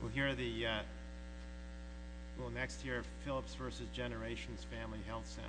We'll hear the, we'll next hear Phillips v. Generations Family Health Center.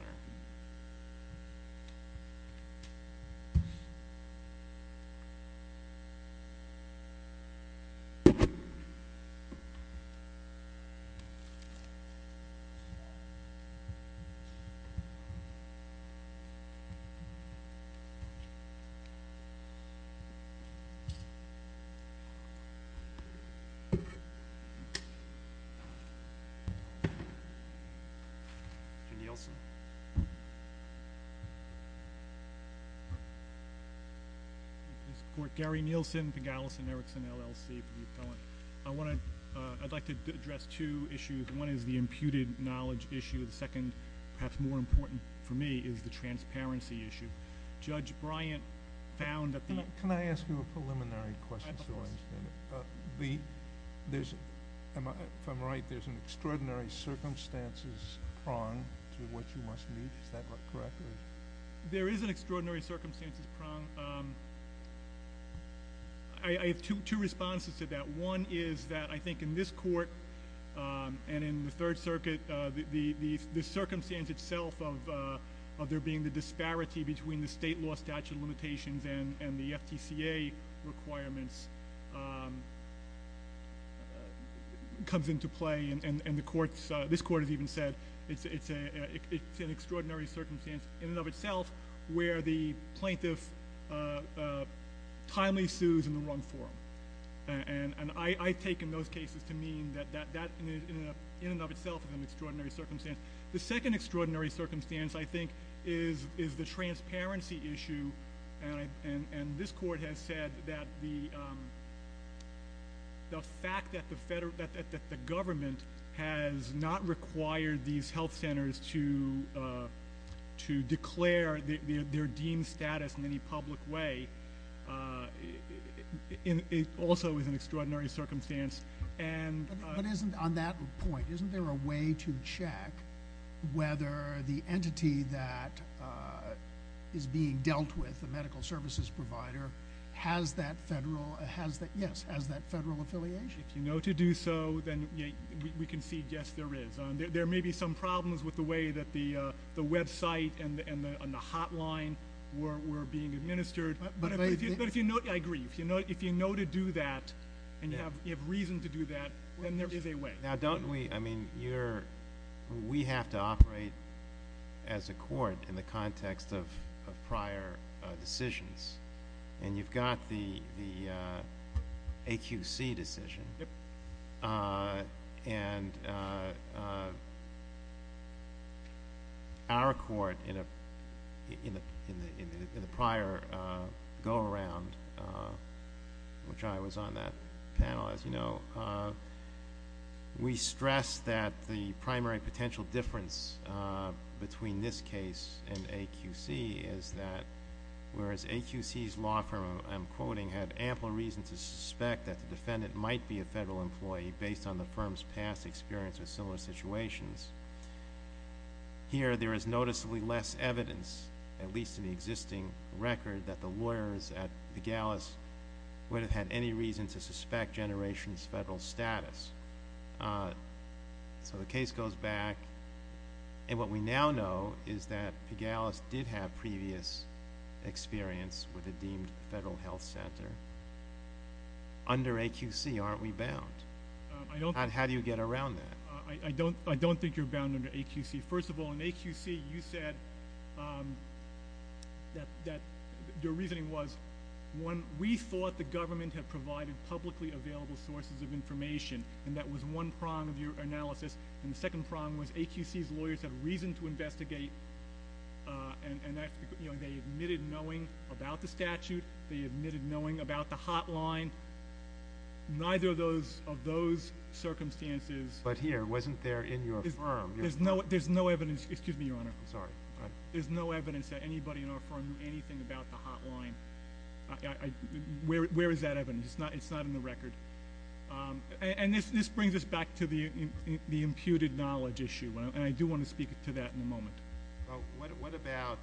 I want to, I'd like to address two issues. One is the imputed knowledge issue. The second, perhaps more important for me, is the transparency issue. Judge Bryant found that the- If I'm right, there's an extraordinary circumstances prong to what you must meet. Is that correct? There is an extraordinary circumstances prong. I have two responses to that. One is that I think in this court and in the Third Circuit, the circumstance itself of there being the disparity between the state law statute limitations and the FTCA requirements comes into play. And the courts, this court has even said it's an extraordinary circumstance in and of itself where the plaintiff timely sues in the wrong form. And I take in those cases to mean that that in and of itself is an extraordinary circumstance. The second extraordinary circumstance, I think, is the transparency issue. And this court has said that the fact that the government has not required these health centers to declare their deemed status in any public way, it also is an extraordinary circumstance. But on that point, isn't there a way to check whether the entity that is being dealt with, the medical services provider, has that federal affiliation? If you know to do so, then we can see, yes, there is. There may be some problems with the way that the website and the hotline were being administered. But if you know, I agree, if you know to do that and you have reason to do that, then there is a way. Now don't we, I mean, we have to operate as a court in the context of prior decisions. And you've got the AQC decision. And our court in the prior go-around, which I was on that panel, as you know, we stressed that the primary potential difference between this case and AQC is that whereas AQC law firm, I'm quoting, had ample reason to suspect that the defendant might be a federal employee based on the firm's past experience with similar situations, here there is noticeably less evidence, at least in the existing record, that the lawyers at Pigalis would have had any reason to suspect Generations Federal's status. So the case goes back. And what we now know is that Pigalis did have previous experience with a deemed federal health center. Under AQC, aren't we bound? How do you get around that? I don't think you're bound under AQC. First of all, in AQC, you said that, your reasoning was, one, we thought the government had provided publicly available sources of information. And that was one prong of your analysis. And the second prong was AQC's lawyers had reason to investigate. And they admitted knowing about the statute. They admitted knowing about the hotline. Neither of those circumstances... But here, wasn't there in your firm? There's no evidence. Excuse me, Your Honor. I'm sorry. There's no evidence that anybody in our firm knew anything about the hotline. Where is that evidence? It's not in the record. And this brings us back to the imputed knowledge issue. And I do want to speak to that in a moment. What about,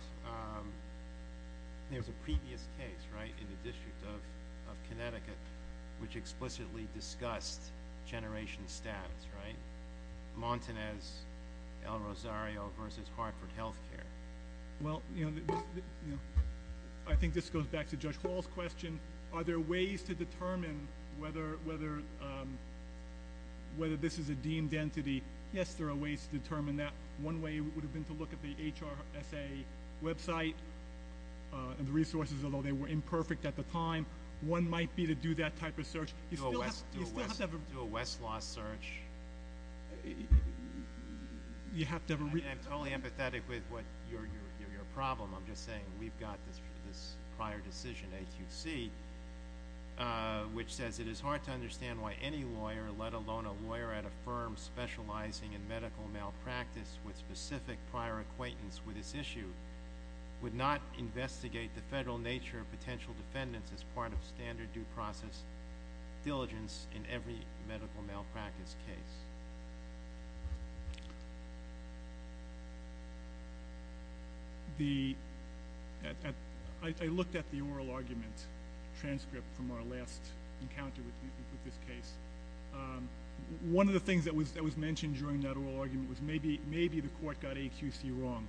there's a previous case, right, in the District of Connecticut, which explicitly discussed generation status, right? Martinez L. Rosario v. Hartford Health Care. Well, you know, I think this goes back to Judge Hall's question. Are there ways to determine whether this is a deemed entity? Yes, there are ways to determine that. One way would have been to look at the HRSA website and the resources, although they were imperfect at the time. One might be to do that type of search. Do a Westlaw search. I'm totally empathetic with your problem. I'm just saying we've got this prior decision, A2C, which says it is hard to understand why any lawyer, let alone a lawyer at a firm specializing in medical malpractice with specific prior acquaintance with this issue, would not investigate the federal nature of potential defendants as part of standard due process diligence in every medical malpractice case. I looked at the oral argument transcript from our last encounter with this case. One of the things that was mentioned during that oral argument was maybe the court got AQC wrong.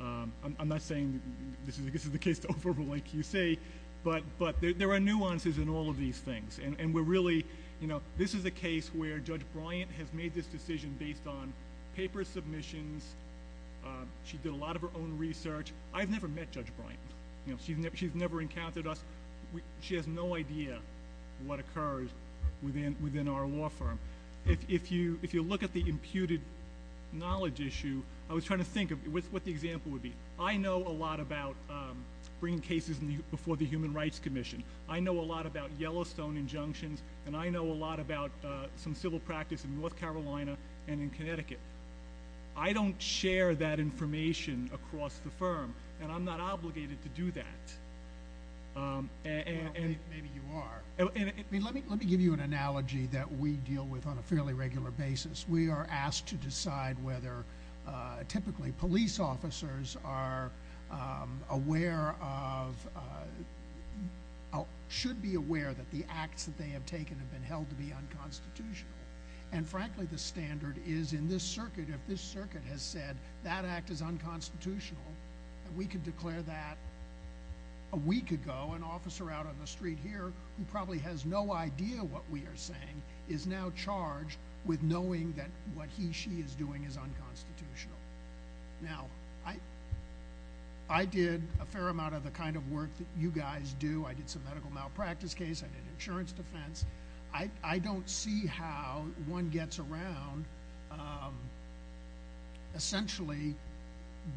I'm not saying this is the case to overrule AQC, but there are nuances in all of these things. This is a case where Judge Bryant has made this decision based on paper submissions. She did a lot of her own research. I've never met Judge Bryant. She's never encountered us. She has no idea what occurs within our law firm. If you look at the imputed knowledge issue, I was trying to think of what the example would be. I know a lot about bringing cases before the Human Rights Commission. I know a lot about Yellowstone injunctions, and I know a lot about some civil practice in North Carolina and in Connecticut. I don't share that information across the firm, and I'm not obligated to do that. Maybe you are. Let me give you an analogy that we deal with on a fairly regular basis. We are asked to decide whether typically police officers are aware of or should be aware that the acts that they have taken have been held to be unconstitutional. Frankly, the standard is in this circuit, if this circuit has said that act is unconstitutional, we could declare that a week ago an officer out on the street here who probably has no idea what we are saying is now charged with knowing that what he or she is doing is unconstitutional. Now, I did a fair amount of the kind of work that you guys do. I did some medical malpractice case. I did insurance defense. I don't see how one gets around essentially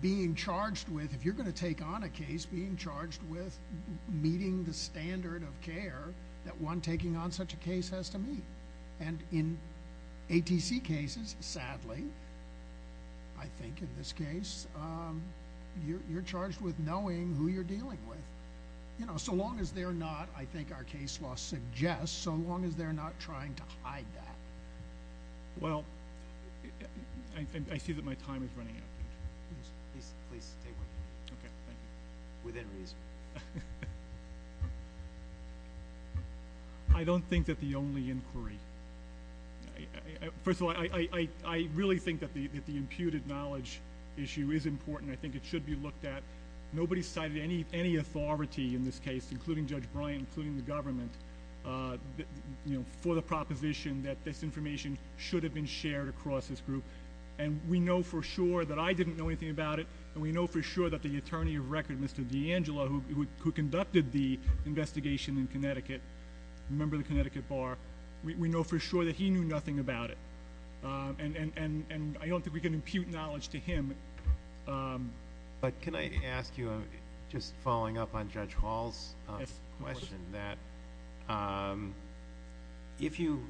being charged with, if you're going to take on a case, being charged with meeting the standard of care that one taking on such a case has to meet. In ATC cases, sadly, I think in this case, you're charged with knowing who you're dealing with. So long as they're not, I think our case law suggests, so long as they're not trying to hide that. Well, I see that my time is running out. Please stay with me. Okay, thank you. Within reason. I don't think that the only inquiry. First of all, I really think that the imputed knowledge issue is important. I think it should be looked at. Nobody cited any authority in this case, including Judge Bryant, including the government, for the proposition that this information should have been shared across this group. And we know for sure that I didn't know anything about it, and we know for sure that the attorney of record, Mr. DeAngelo, who conducted the investigation in Connecticut, a member of the Connecticut Bar, we know for sure that he knew nothing about it. And I don't think we can impute knowledge to him. But can I ask you, just following up on Judge Hall's question, that if you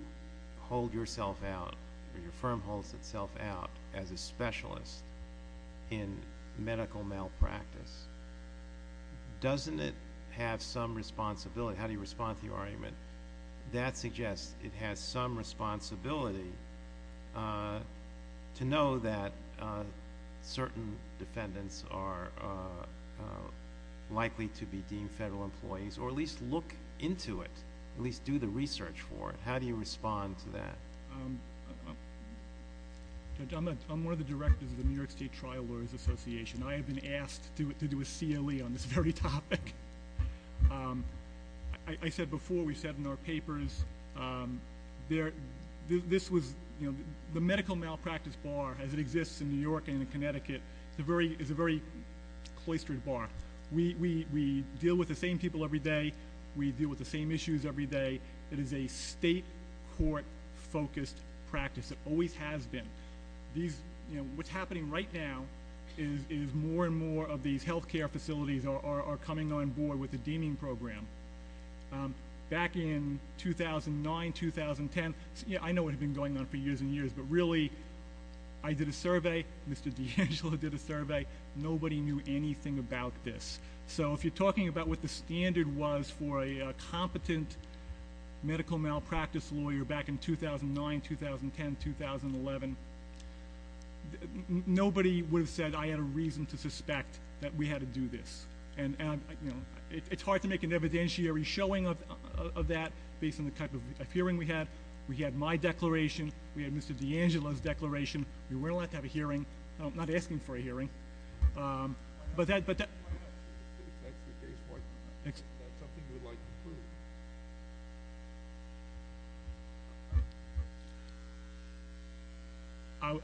hold yourself out or your firm holds itself out as a specialist in medical malpractice, doesn't it have some responsibility? How do you respond to the argument? That suggests it has some responsibility to know that certain defendants are likely to be deemed federal employees or at least look into it, at least do the research for it. How do you respond to that? Judge, I'm one of the directors of the New York State Trial Lawyers Association. I have been asked to do a CLE on this very topic. I said before, we said in our papers, the medical malpractice bar, as it exists in New York and in Connecticut, is a very cloistered bar. We deal with the same people every day. We deal with the same issues every day. It is a state court-focused practice. It always has been. What's happening right now is more and more of these health care facilities are coming on board with the deeming program. Back in 2009, 2010, I know what had been going on for years and years, but really, I did a survey. Mr. DeAngelo did a survey. Nobody knew anything about this. If you're talking about what the standard was for a competent medical malpractice lawyer back in 2009, 2010, 2011, nobody would have said I had a reason to suspect that we had to do this. It's hard to make an evidentiary showing of that based on the type of hearing we had. We had my declaration. We had Mr. DeAngelo's declaration. We were allowed to have a hearing. I'm not asking for a hearing. But that- That's the case. Is that something you would like to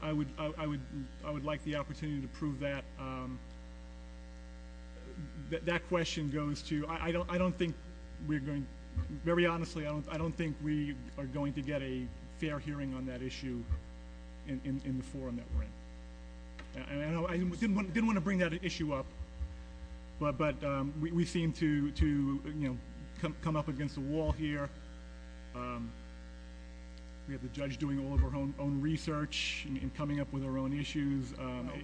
prove? I would like the opportunity to prove that. That question goes to you. Very honestly, I don't think we are going to get a fair hearing on that issue in the forum that we're in. I didn't want to bring that issue up, but we seem to come up against a wall here. We have the judge doing all of her own research and coming up with her own issues.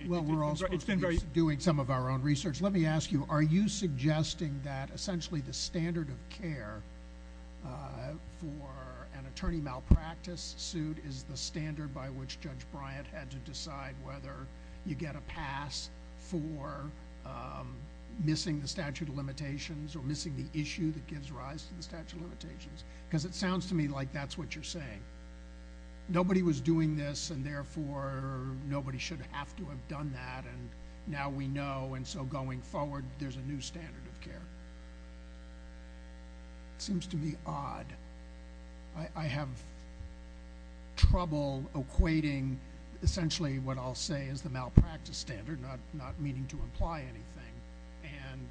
Well, we're all supposed to be doing some of our own research. Let me ask you, are you suggesting that essentially the standard of care for an attorney malpractice suit is the standard by which Judge Bryant had to decide whether you get a pass for missing the statute of limitations or missing the issue that gives rise to the statute of limitations? Because it sounds to me like that's what you're saying. Nobody was doing this, and therefore, nobody should have to have done that. Now we know, and so going forward, there's a new standard of care. It seems to me odd. I have trouble equating essentially what I'll say is the malpractice standard, not meaning to imply anything, and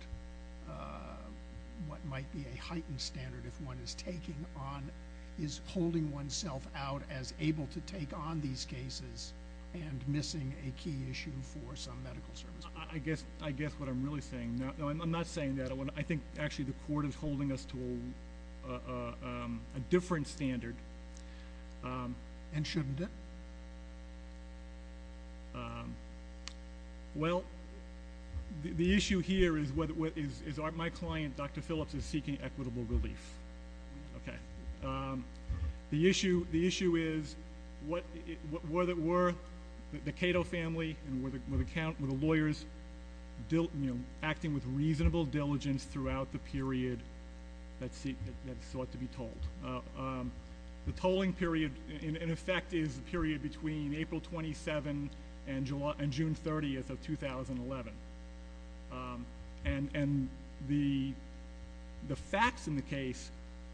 what might be a heightened standard if one is holding oneself out as able to take on these cases and missing a key issue for some medical service. I guess what I'm really saying, no, I'm not saying that. I think actually the court is holding us to a different standard. And shouldn't it? Well, the issue here is my client, Dr. Phillips, is seeking equitable relief. Okay. The issue is were the Cato family and were the lawyers acting with reasonable diligence throughout the period that sought to be told? The tolling period, in effect, is the period between April 27 and June 30 of 2011. And the facts in the case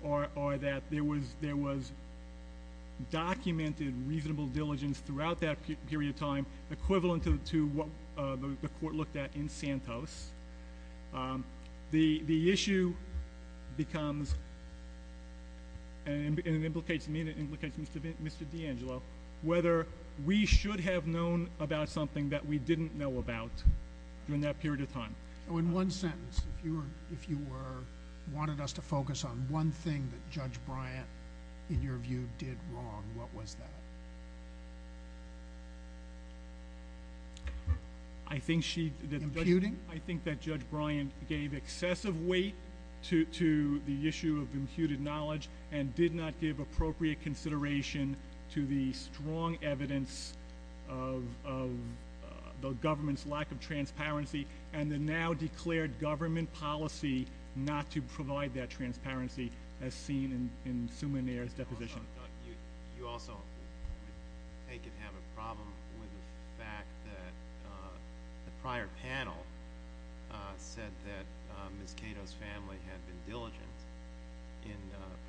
are that there was documented reasonable diligence throughout that period of time, equivalent to what the court looked at in Santos. The issue becomes, and it implicates me and it implicates Mr. DeAngelo, whether we should have known about something that we didn't know about during that period of time. In one sentence, if you wanted us to focus on one thing that Judge Bryant, in your view, did wrong, what was that? Imputing? I think that Judge Bryant gave excessive weight to the issue of imputed knowledge and did not give appropriate consideration to the strong evidence of the government's lack of transparency and the now-declared government policy not to provide that transparency as seen in Suminer's deposition. You also take and have a problem with the fact that the prior panel said that Ms. Cato's family had been diligent in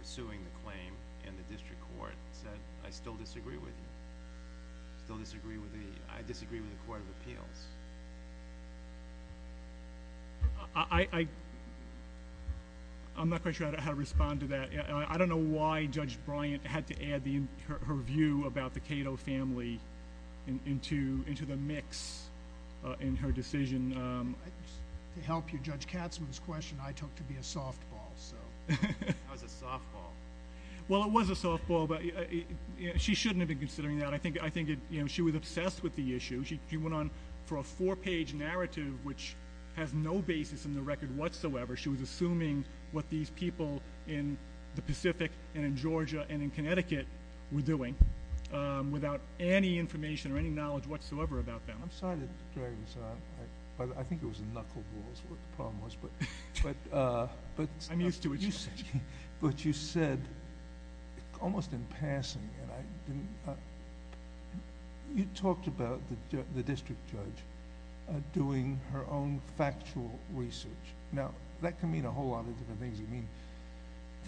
pursuing the claim and the district court said, I still disagree with you. I disagree with the court of appeals. I'm not quite sure how to respond to that. I don't know why Judge Bryant had to add her view about the Cato family into the mix in her decision. To help you, Judge Katz, with this question, I took to be a softball. That was a softball. Well, it was a softball, but she shouldn't have been considering that. I think she was obsessed with the issue. She went on for a four-page narrative which has no basis in the record whatsoever. She was assuming what these people in the Pacific and in Georgia and in Connecticut were doing without any information or any knowledge whatsoever about them. I'm sorry to drag this on, but I think it was a knuckleball is what the problem was. I'm used to it. But you said, almost in passing, you talked about the district judge doing her own factual research. Now, that can mean a whole lot of different things. It can mean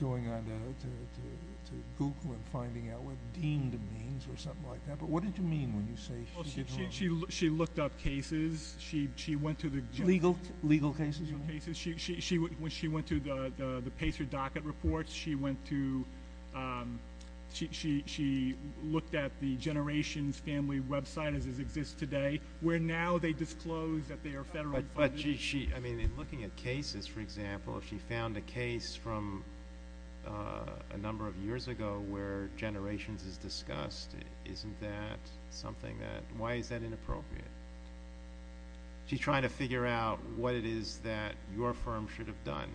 going on to Google and finding out what deemed means or something like that. But what did you mean when you say she did her own? Well, she looked up cases. She went to the general cases. Legal cases? Legal cases. When she went to the PACER docket reports, she looked at the Generations family website as it exists today, where now they disclose that they are federally funded. But in looking at cases, for example, if she found a case from a number of years ago where Generations is discussed, isn't that something that ñ why is that inappropriate? She's trying to figure out what it is that your firm should have done.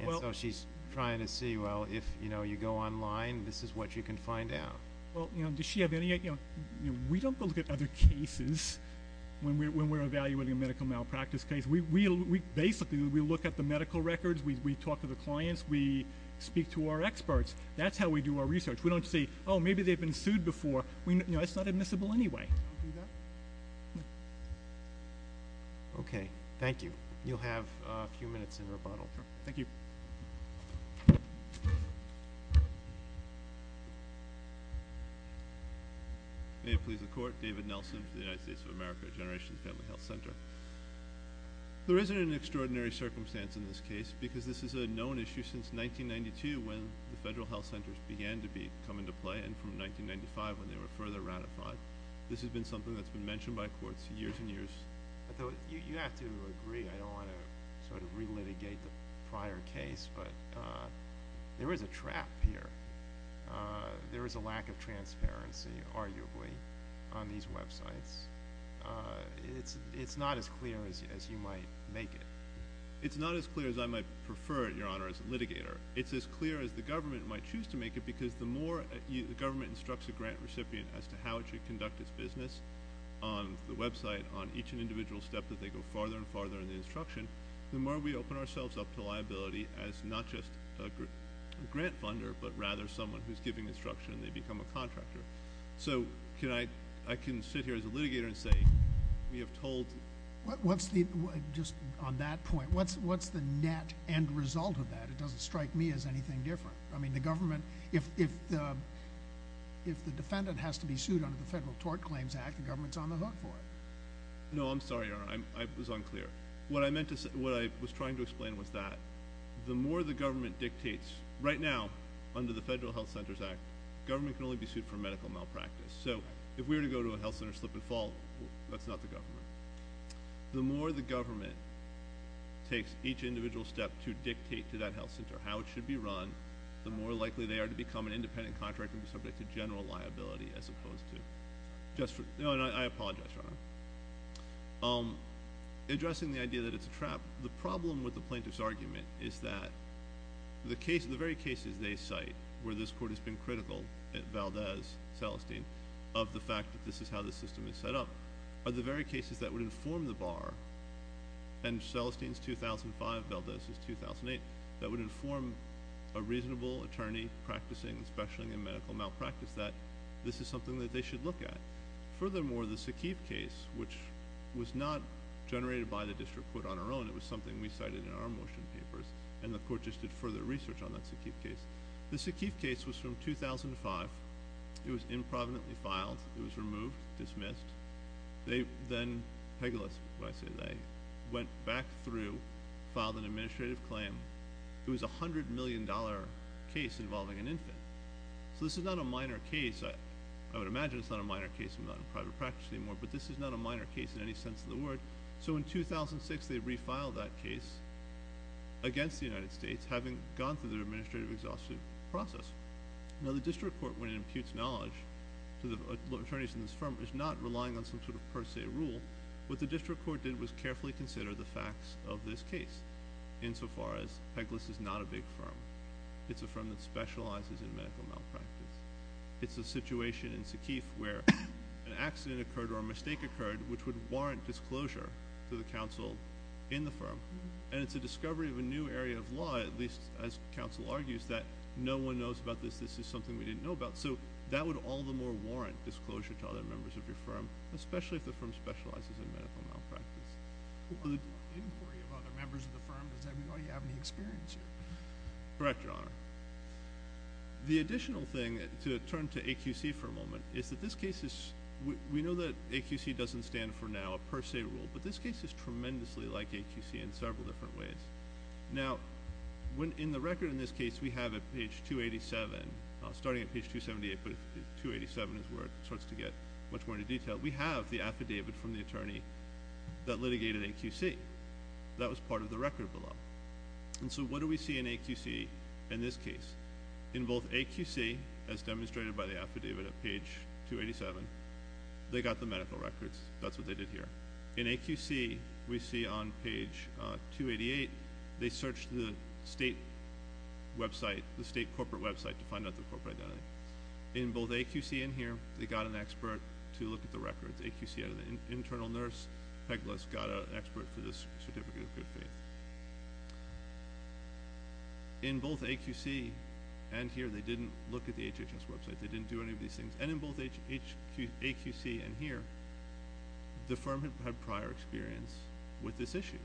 And so she's trying to see, well, if you go online, this is what you can find out. We don't go look at other cases when we're evaluating a medical malpractice case. Basically, we look at the medical records, we talk to the clients, we speak to our experts. That's how we do our research. We don't say, oh, maybe they've been sued before. It's not admissible anyway. Okay. Thank you. You'll have a few minutes in rebuttal. Thank you. May it please the Court. David Nelson for the United States of America at Generations Family Health Center. There isn't an extraordinary circumstance in this case because this is a known issue since 1992, when the federal health centers began to come into play, and from 1995, when they were further ratified. This has been something that's been mentioned by courts for years and years. You have to agree, I don't want to sort of relitigate the prior case, but there is a trap here. There is a lack of transparency, arguably, on these websites. It's not as clear as you might make it. It's not as clear as I might prefer it, Your Honor, as a litigator. It's as clear as the government might choose to make it because the more the government instructs a grant recipient as to how it should conduct its business on the website, on each individual step that they go farther and farther in the instruction, the more we open ourselves up to liability as not just a grant funder, but rather someone who's giving instruction and they become a contractor. So I can sit here as a litigator and say we have told. Just on that point, what's the net end result of that? It doesn't strike me as anything different. I mean the government, if the defendant has to be sued under the Federal Tort Claims Act, the government's on the hook for it. No, I'm sorry, Your Honor. It was unclear. What I was trying to explain was that the more the government dictates, right now under the Federal Health Centers Act, government can only be sued for medical malpractice. So if we were to go to a health center slip and fall, that's not the government. The more the government takes each individual step to dictate to that health center how it should be run, the more likely they are to become an independent contractor and be subject to general liability as opposed to just for – I apologize, Your Honor. Addressing the idea that it's a trap, the problem with the plaintiff's argument is that the very cases they cite where this court has been critical at Valdez, Celestine, of the fact that this is how the system is set up, are the very cases that would inform the bar, and Celestine's 2005, Valdez's 2008, that would inform a reasonable attorney practicing, especially in medical malpractice, that this is something that they should look at. Furthermore, the Sakiv case, which was not generated by the district court on our own. It was something we cited in our motion papers, and the court just did further research on that Sakiv case. The Sakiv case was from 2005. It was removed, dismissed. They then – Hegelis, when I say they – went back through, filed an administrative claim. It was a $100 million case involving an infant. So this is not a minor case. I would imagine it's not a minor case. I'm not in private practice anymore. But this is not a minor case in any sense of the word. So in 2006, they refiled that case against the United States, having gone through their administrative exhaustion process. Now the district court, when it imputes knowledge to the attorneys in this firm, is not relying on some sort of per se rule. What the district court did was carefully consider the facts of this case, insofar as Hegelis is not a big firm. It's a firm that specializes in medical malpractice. It's a situation in Sakiv where an accident occurred or a mistake occurred which would warrant disclosure to the counsel in the firm. And it's a discovery of a new area of law, at least as counsel argues, that no one knows about this, this is something we didn't know about. So that would all the more warrant disclosure to other members of your firm, especially if the firm specializes in medical malpractice. The inquiry of other members of the firm, does that mean you have any experience here? Correct, Your Honor. The additional thing, to turn to AQC for a moment, is that this case is we know that AQC doesn't stand for now a per se rule, but this case is tremendously like AQC in several different ways. Now, in the record in this case we have at page 287, starting at page 278, but 287 is where it starts to get much more into detail, we have the affidavit from the attorney that litigated AQC. That was part of the record below. And so what do we see in AQC in this case? In both AQC, as demonstrated by the affidavit at page 287, they got the medical records, that's what they did here. In AQC, we see on page 288, they searched the state website, the state corporate website to find out the corporate identity. In both AQC and here, they got an expert to look at the records. AQC had an internal nurse, Peglas, got an expert for this certificate of good faith. In both AQC and here, they didn't look at the HHS website. They didn't do any of these things. And in both AQC and here, the firm had prior experience with this issue.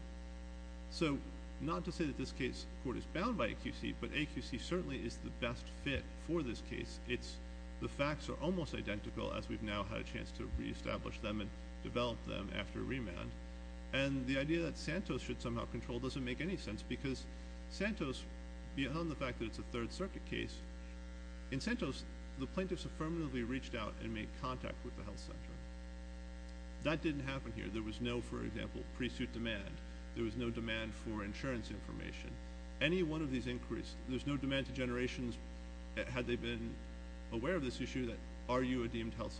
So not to say that this case court is bound by AQC, but AQC certainly is the best fit for this case. The facts are almost identical as we've now had a chance to reestablish them and develop them after remand. And the idea that Santos should somehow control doesn't make any sense because Santos, beyond the fact that it's a Third Circuit case, in Santos, the plaintiffs affirmatively reached out and made contact with the health center. That didn't happen here. There was no, for example, pre-suit demand. There was no demand for insurance information. Any one of these inquiries, there's no demand to generations, had they been aware of this issue, that are you a deemed health center.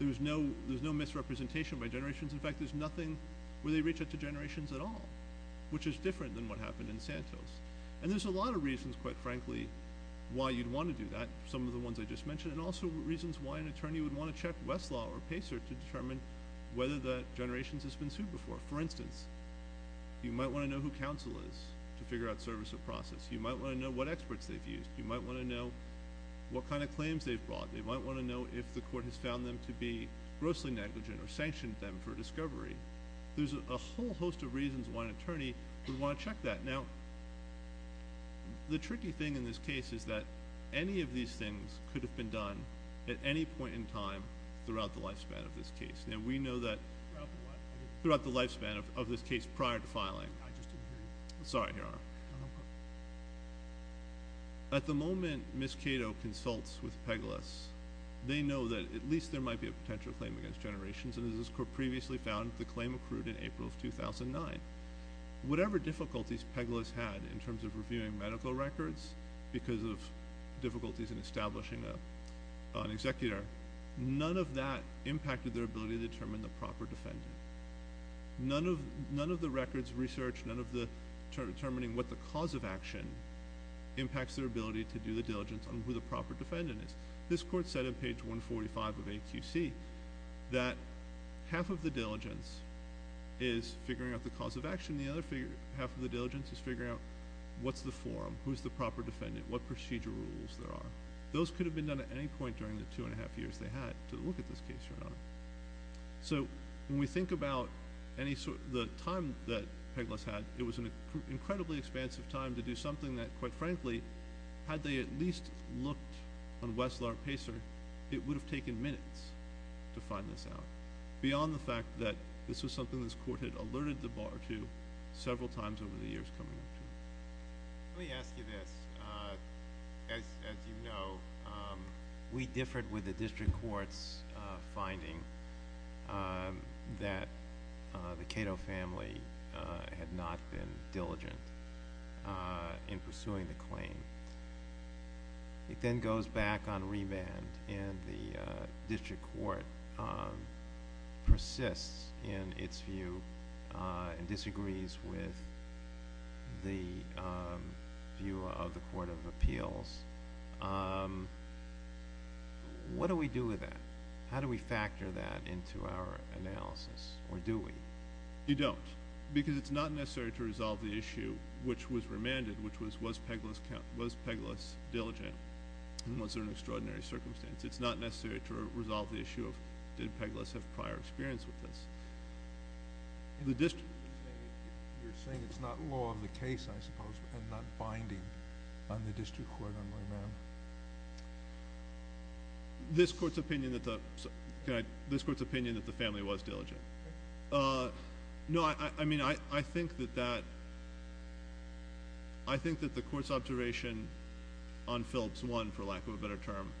There's no misrepresentation by generations. In fact, there's nothing where they reach out to generations at all, which is different than what happened in Santos. And there's a lot of reasons, quite frankly, why you'd want to do that, some of the ones I just mentioned, and also reasons why an attorney would want to check Westlaw or Pacer to determine whether the generations has been sued before. For instance, you might want to know who counsel is to figure out service of process. You might want to know what experts they've used. You might want to know what kind of claims they've brought. They might want to know if the court has found them to be grossly negligent or sanctioned them for discovery. There's a whole host of reasons why an attorney would want to check that. Now, the tricky thing in this case is that any of these things could have been done at any point in time throughout the lifespan of this case. Now, we know that throughout the lifespan of this case prior to filing. Sorry, Your Honor. At the moment Ms. Cato consults with Pegalus, they know that at least there might be a potential claim against generations, and as this court previously found, the claim accrued in April of 2009. Whatever difficulties Pegalus had in terms of reviewing medical records because of difficulties in establishing an executor, none of that impacted their ability to determine the proper defendant. None of the records researched, none of determining what the cause of action impacts their ability to do the diligence on who the proper defendant is. This court said in page 145 of AQC that half of the diligence is figuring out the cause of action, and the other half of the diligence is figuring out what's the form, who's the proper defendant, what procedure rules there are. Those could have been done at any point during the two and a half years they had to look at this case, Your Honor. So when we think about the time that Pegalus had, it was an incredibly expansive time to do something that, quite frankly, had they at least looked on Wessler and Pacer, it would have taken minutes to find this out, beyond the fact that this was something this court had alerted the bar to several times over the years coming into it. Let me ask you this. As you know, we differed with the district court's finding that the Cato family had not been diligent in pursuing the claim. It then goes back on reband, and the district court persists in its view and disagrees with the view of the Court of Appeals. What do we do with that? How do we factor that into our analysis, or do we? You don't, because it's not necessary to resolve the issue which was remanded, which was, was Pegalus diligent, and was there an extraordinary circumstance? It's not necessary to resolve the issue of, did Pegalus have prior experience with this? You're saying it's not law of the case, I suppose, and not binding on the district court on remand? This court's opinion that the family was diligent. I think that the court's observation on Phillips 1, for lack of a better term,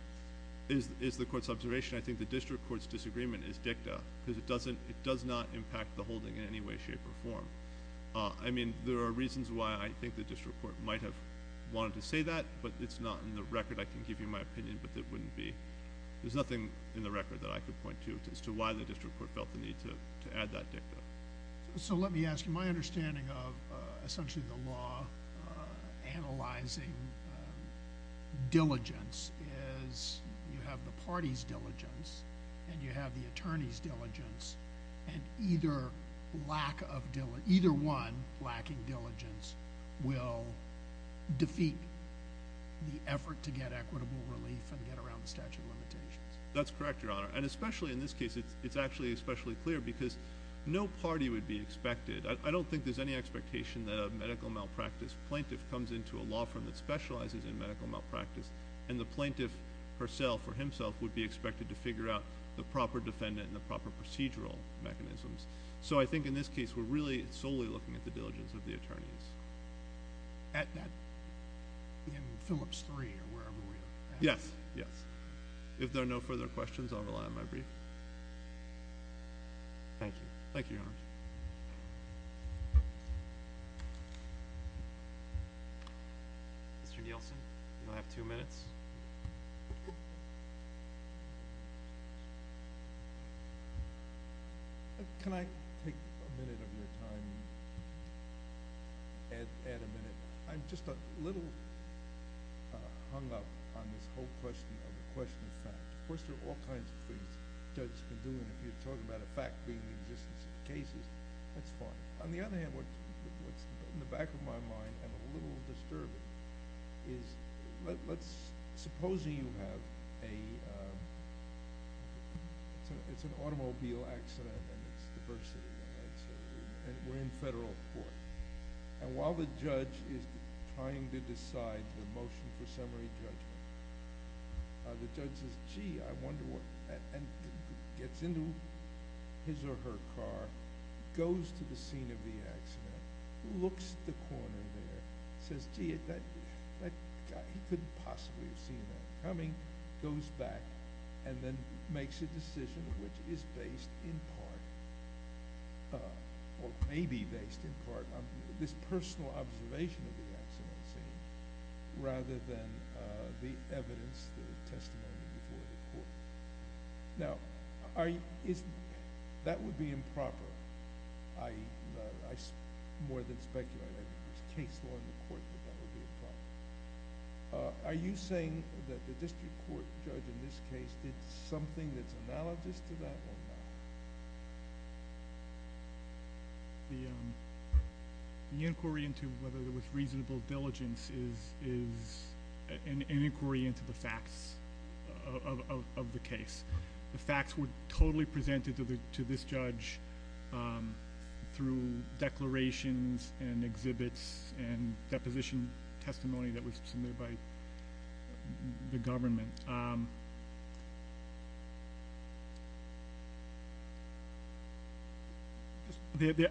is the court's observation. I think the district court's disagreement is dicta, because it does not impact the holding in any way, shape, or form. There are reasons why I think the district court might have wanted to say that, but it's not in the record. I can give you my opinion, but it wouldn't be. There's nothing in the record that I could point to as to why the district court felt the need to add that dicta. Let me ask you. My understanding of essentially the law analyzing diligence is you have the party's diligence and you have the attorney's diligence, and either one lacking diligence will defeat the effort to get equitable relief and get around the statute of limitations. That's correct, Your Honor. Especially in this case, it's actually especially clear, because no party would be expected. I don't think there's any expectation that a medical malpractice plaintiff comes into a law firm that specializes in medical malpractice and the plaintiff herself or himself would be expected to figure out the proper defendant and the proper procedural mechanisms. I think in this case we're really solely looking at the diligence of the attorneys. At that, in Phillips 3 or wherever we're at. Yes. If there are no further questions, I'll rely on my brief. Thank you. Thank you, Your Honor. Mr. Nielsen, you now have two minutes. Can I take a minute of your time and add a minute? I'm just a little hung up on this whole question of the question of fact. Of course, there are all kinds of things judges can do, and if you're talking about a fact being the existence of cases, that's fine. On the other hand, what's in the back of my mind, and a little disturbing, is let's... supposing you have a... it's an automobile accident and it's diversity, and we're in federal court. While the judge is trying to decide the motion for summary judgment, the judge says, gee, I wonder what... and gets into his or her car, goes to the scene of the accident, looks at the corner there, says, gee, that guy, he couldn't possibly have seen that coming, goes back, and then makes a decision which is based in part, or may be based in part on this personal observation of the accident scene rather than the evidence, the testimony before the court. Now, that would be improper. I more than speculate. There's case law in the court that that would be improper. Are you saying that the district court judge in this case did something that's analogous to that or not? The inquiry into whether there was reasonable diligence is an inquiry into the facts of the case. The facts were totally presented to this judge through declarations and exhibits and deposition testimony that was submitted by the government.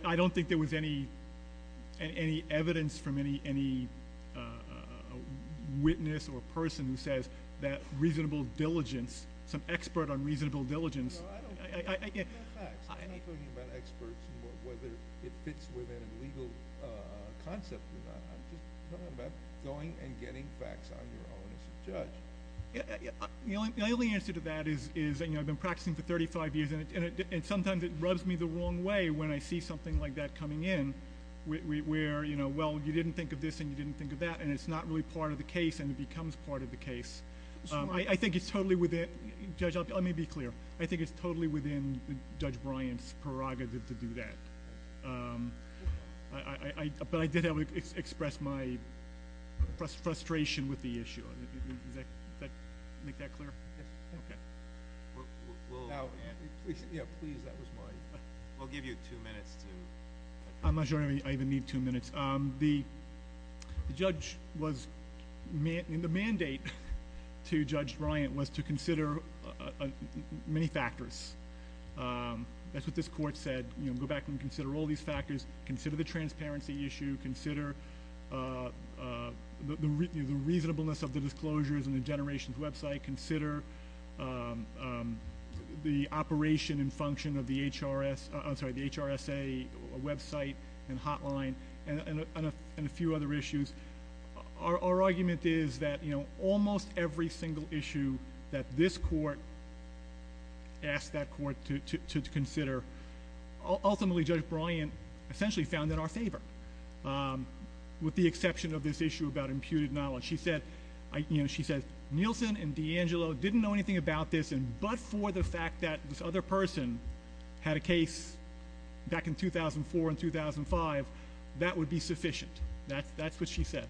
I don't think there was any evidence from any witness or person who says that reasonable diligence, some expert on reasonable diligence... I'm just talking about going and getting facts on your own as a judge. The only answer to that is I've been practicing for 35 years and sometimes it rubs me the wrong way when I see something like that coming in where, well, you didn't think of this and you didn't think of that and it's not really part of the case and it becomes part of the case. I think it's totally within, Judge, let me be clear, I think it's totally within Judge Bryant's prerogative to do that. But I did have to express my frustration with the issue. Is that clear? Yes. Okay. Please, that was my... We'll give you two minutes to... I'm not sure I even need two minutes. The mandate to Judge Bryant was to consider many factors. That's what this court said. Go back and consider all these factors. Consider the transparency issue. Consider the reasonableness of the disclosures and the Generations website. Consider the operation and function of the HRSA website and hotline and a few other issues. Our argument is that almost every single issue that this court asked that court to consider, ultimately, Judge Bryant essentially found in our favor, with the exception of this issue about imputed knowledge. She said Nielsen and D'Angelo didn't know anything about this, but for the fact that this other person had a case back in 2004 and 2005, that would be sufficient. That's what she said.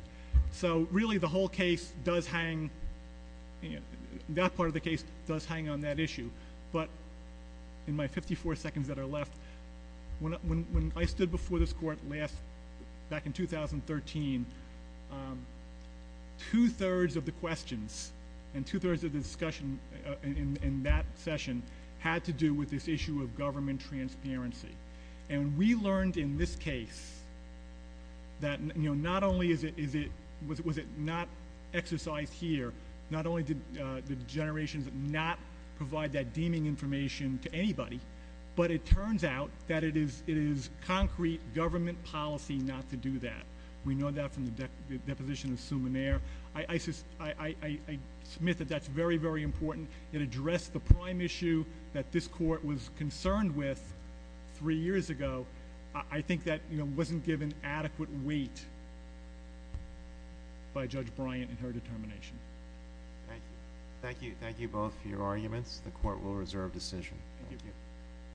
Really, that part of the case does hang on that issue, but in my 54 seconds that are left, when I stood before this court back in 2013, two-thirds of the questions and two-thirds of the discussion in that session had to do with this issue of government transparency. We learned in this case that not only was it not exercised here, not only did the Generations not provide that deeming information to anybody, but it turns out that it is concrete government policy not to do that. We know that from the deposition of Sumner. I submit that that's very, very important. It addressed the prime issue that this court was concerned with three years ago. I think that wasn't given adequate weight by Judge Bryant in her determination. Thank you. Thank you both for your arguments. The court will reserve decision. Thank you.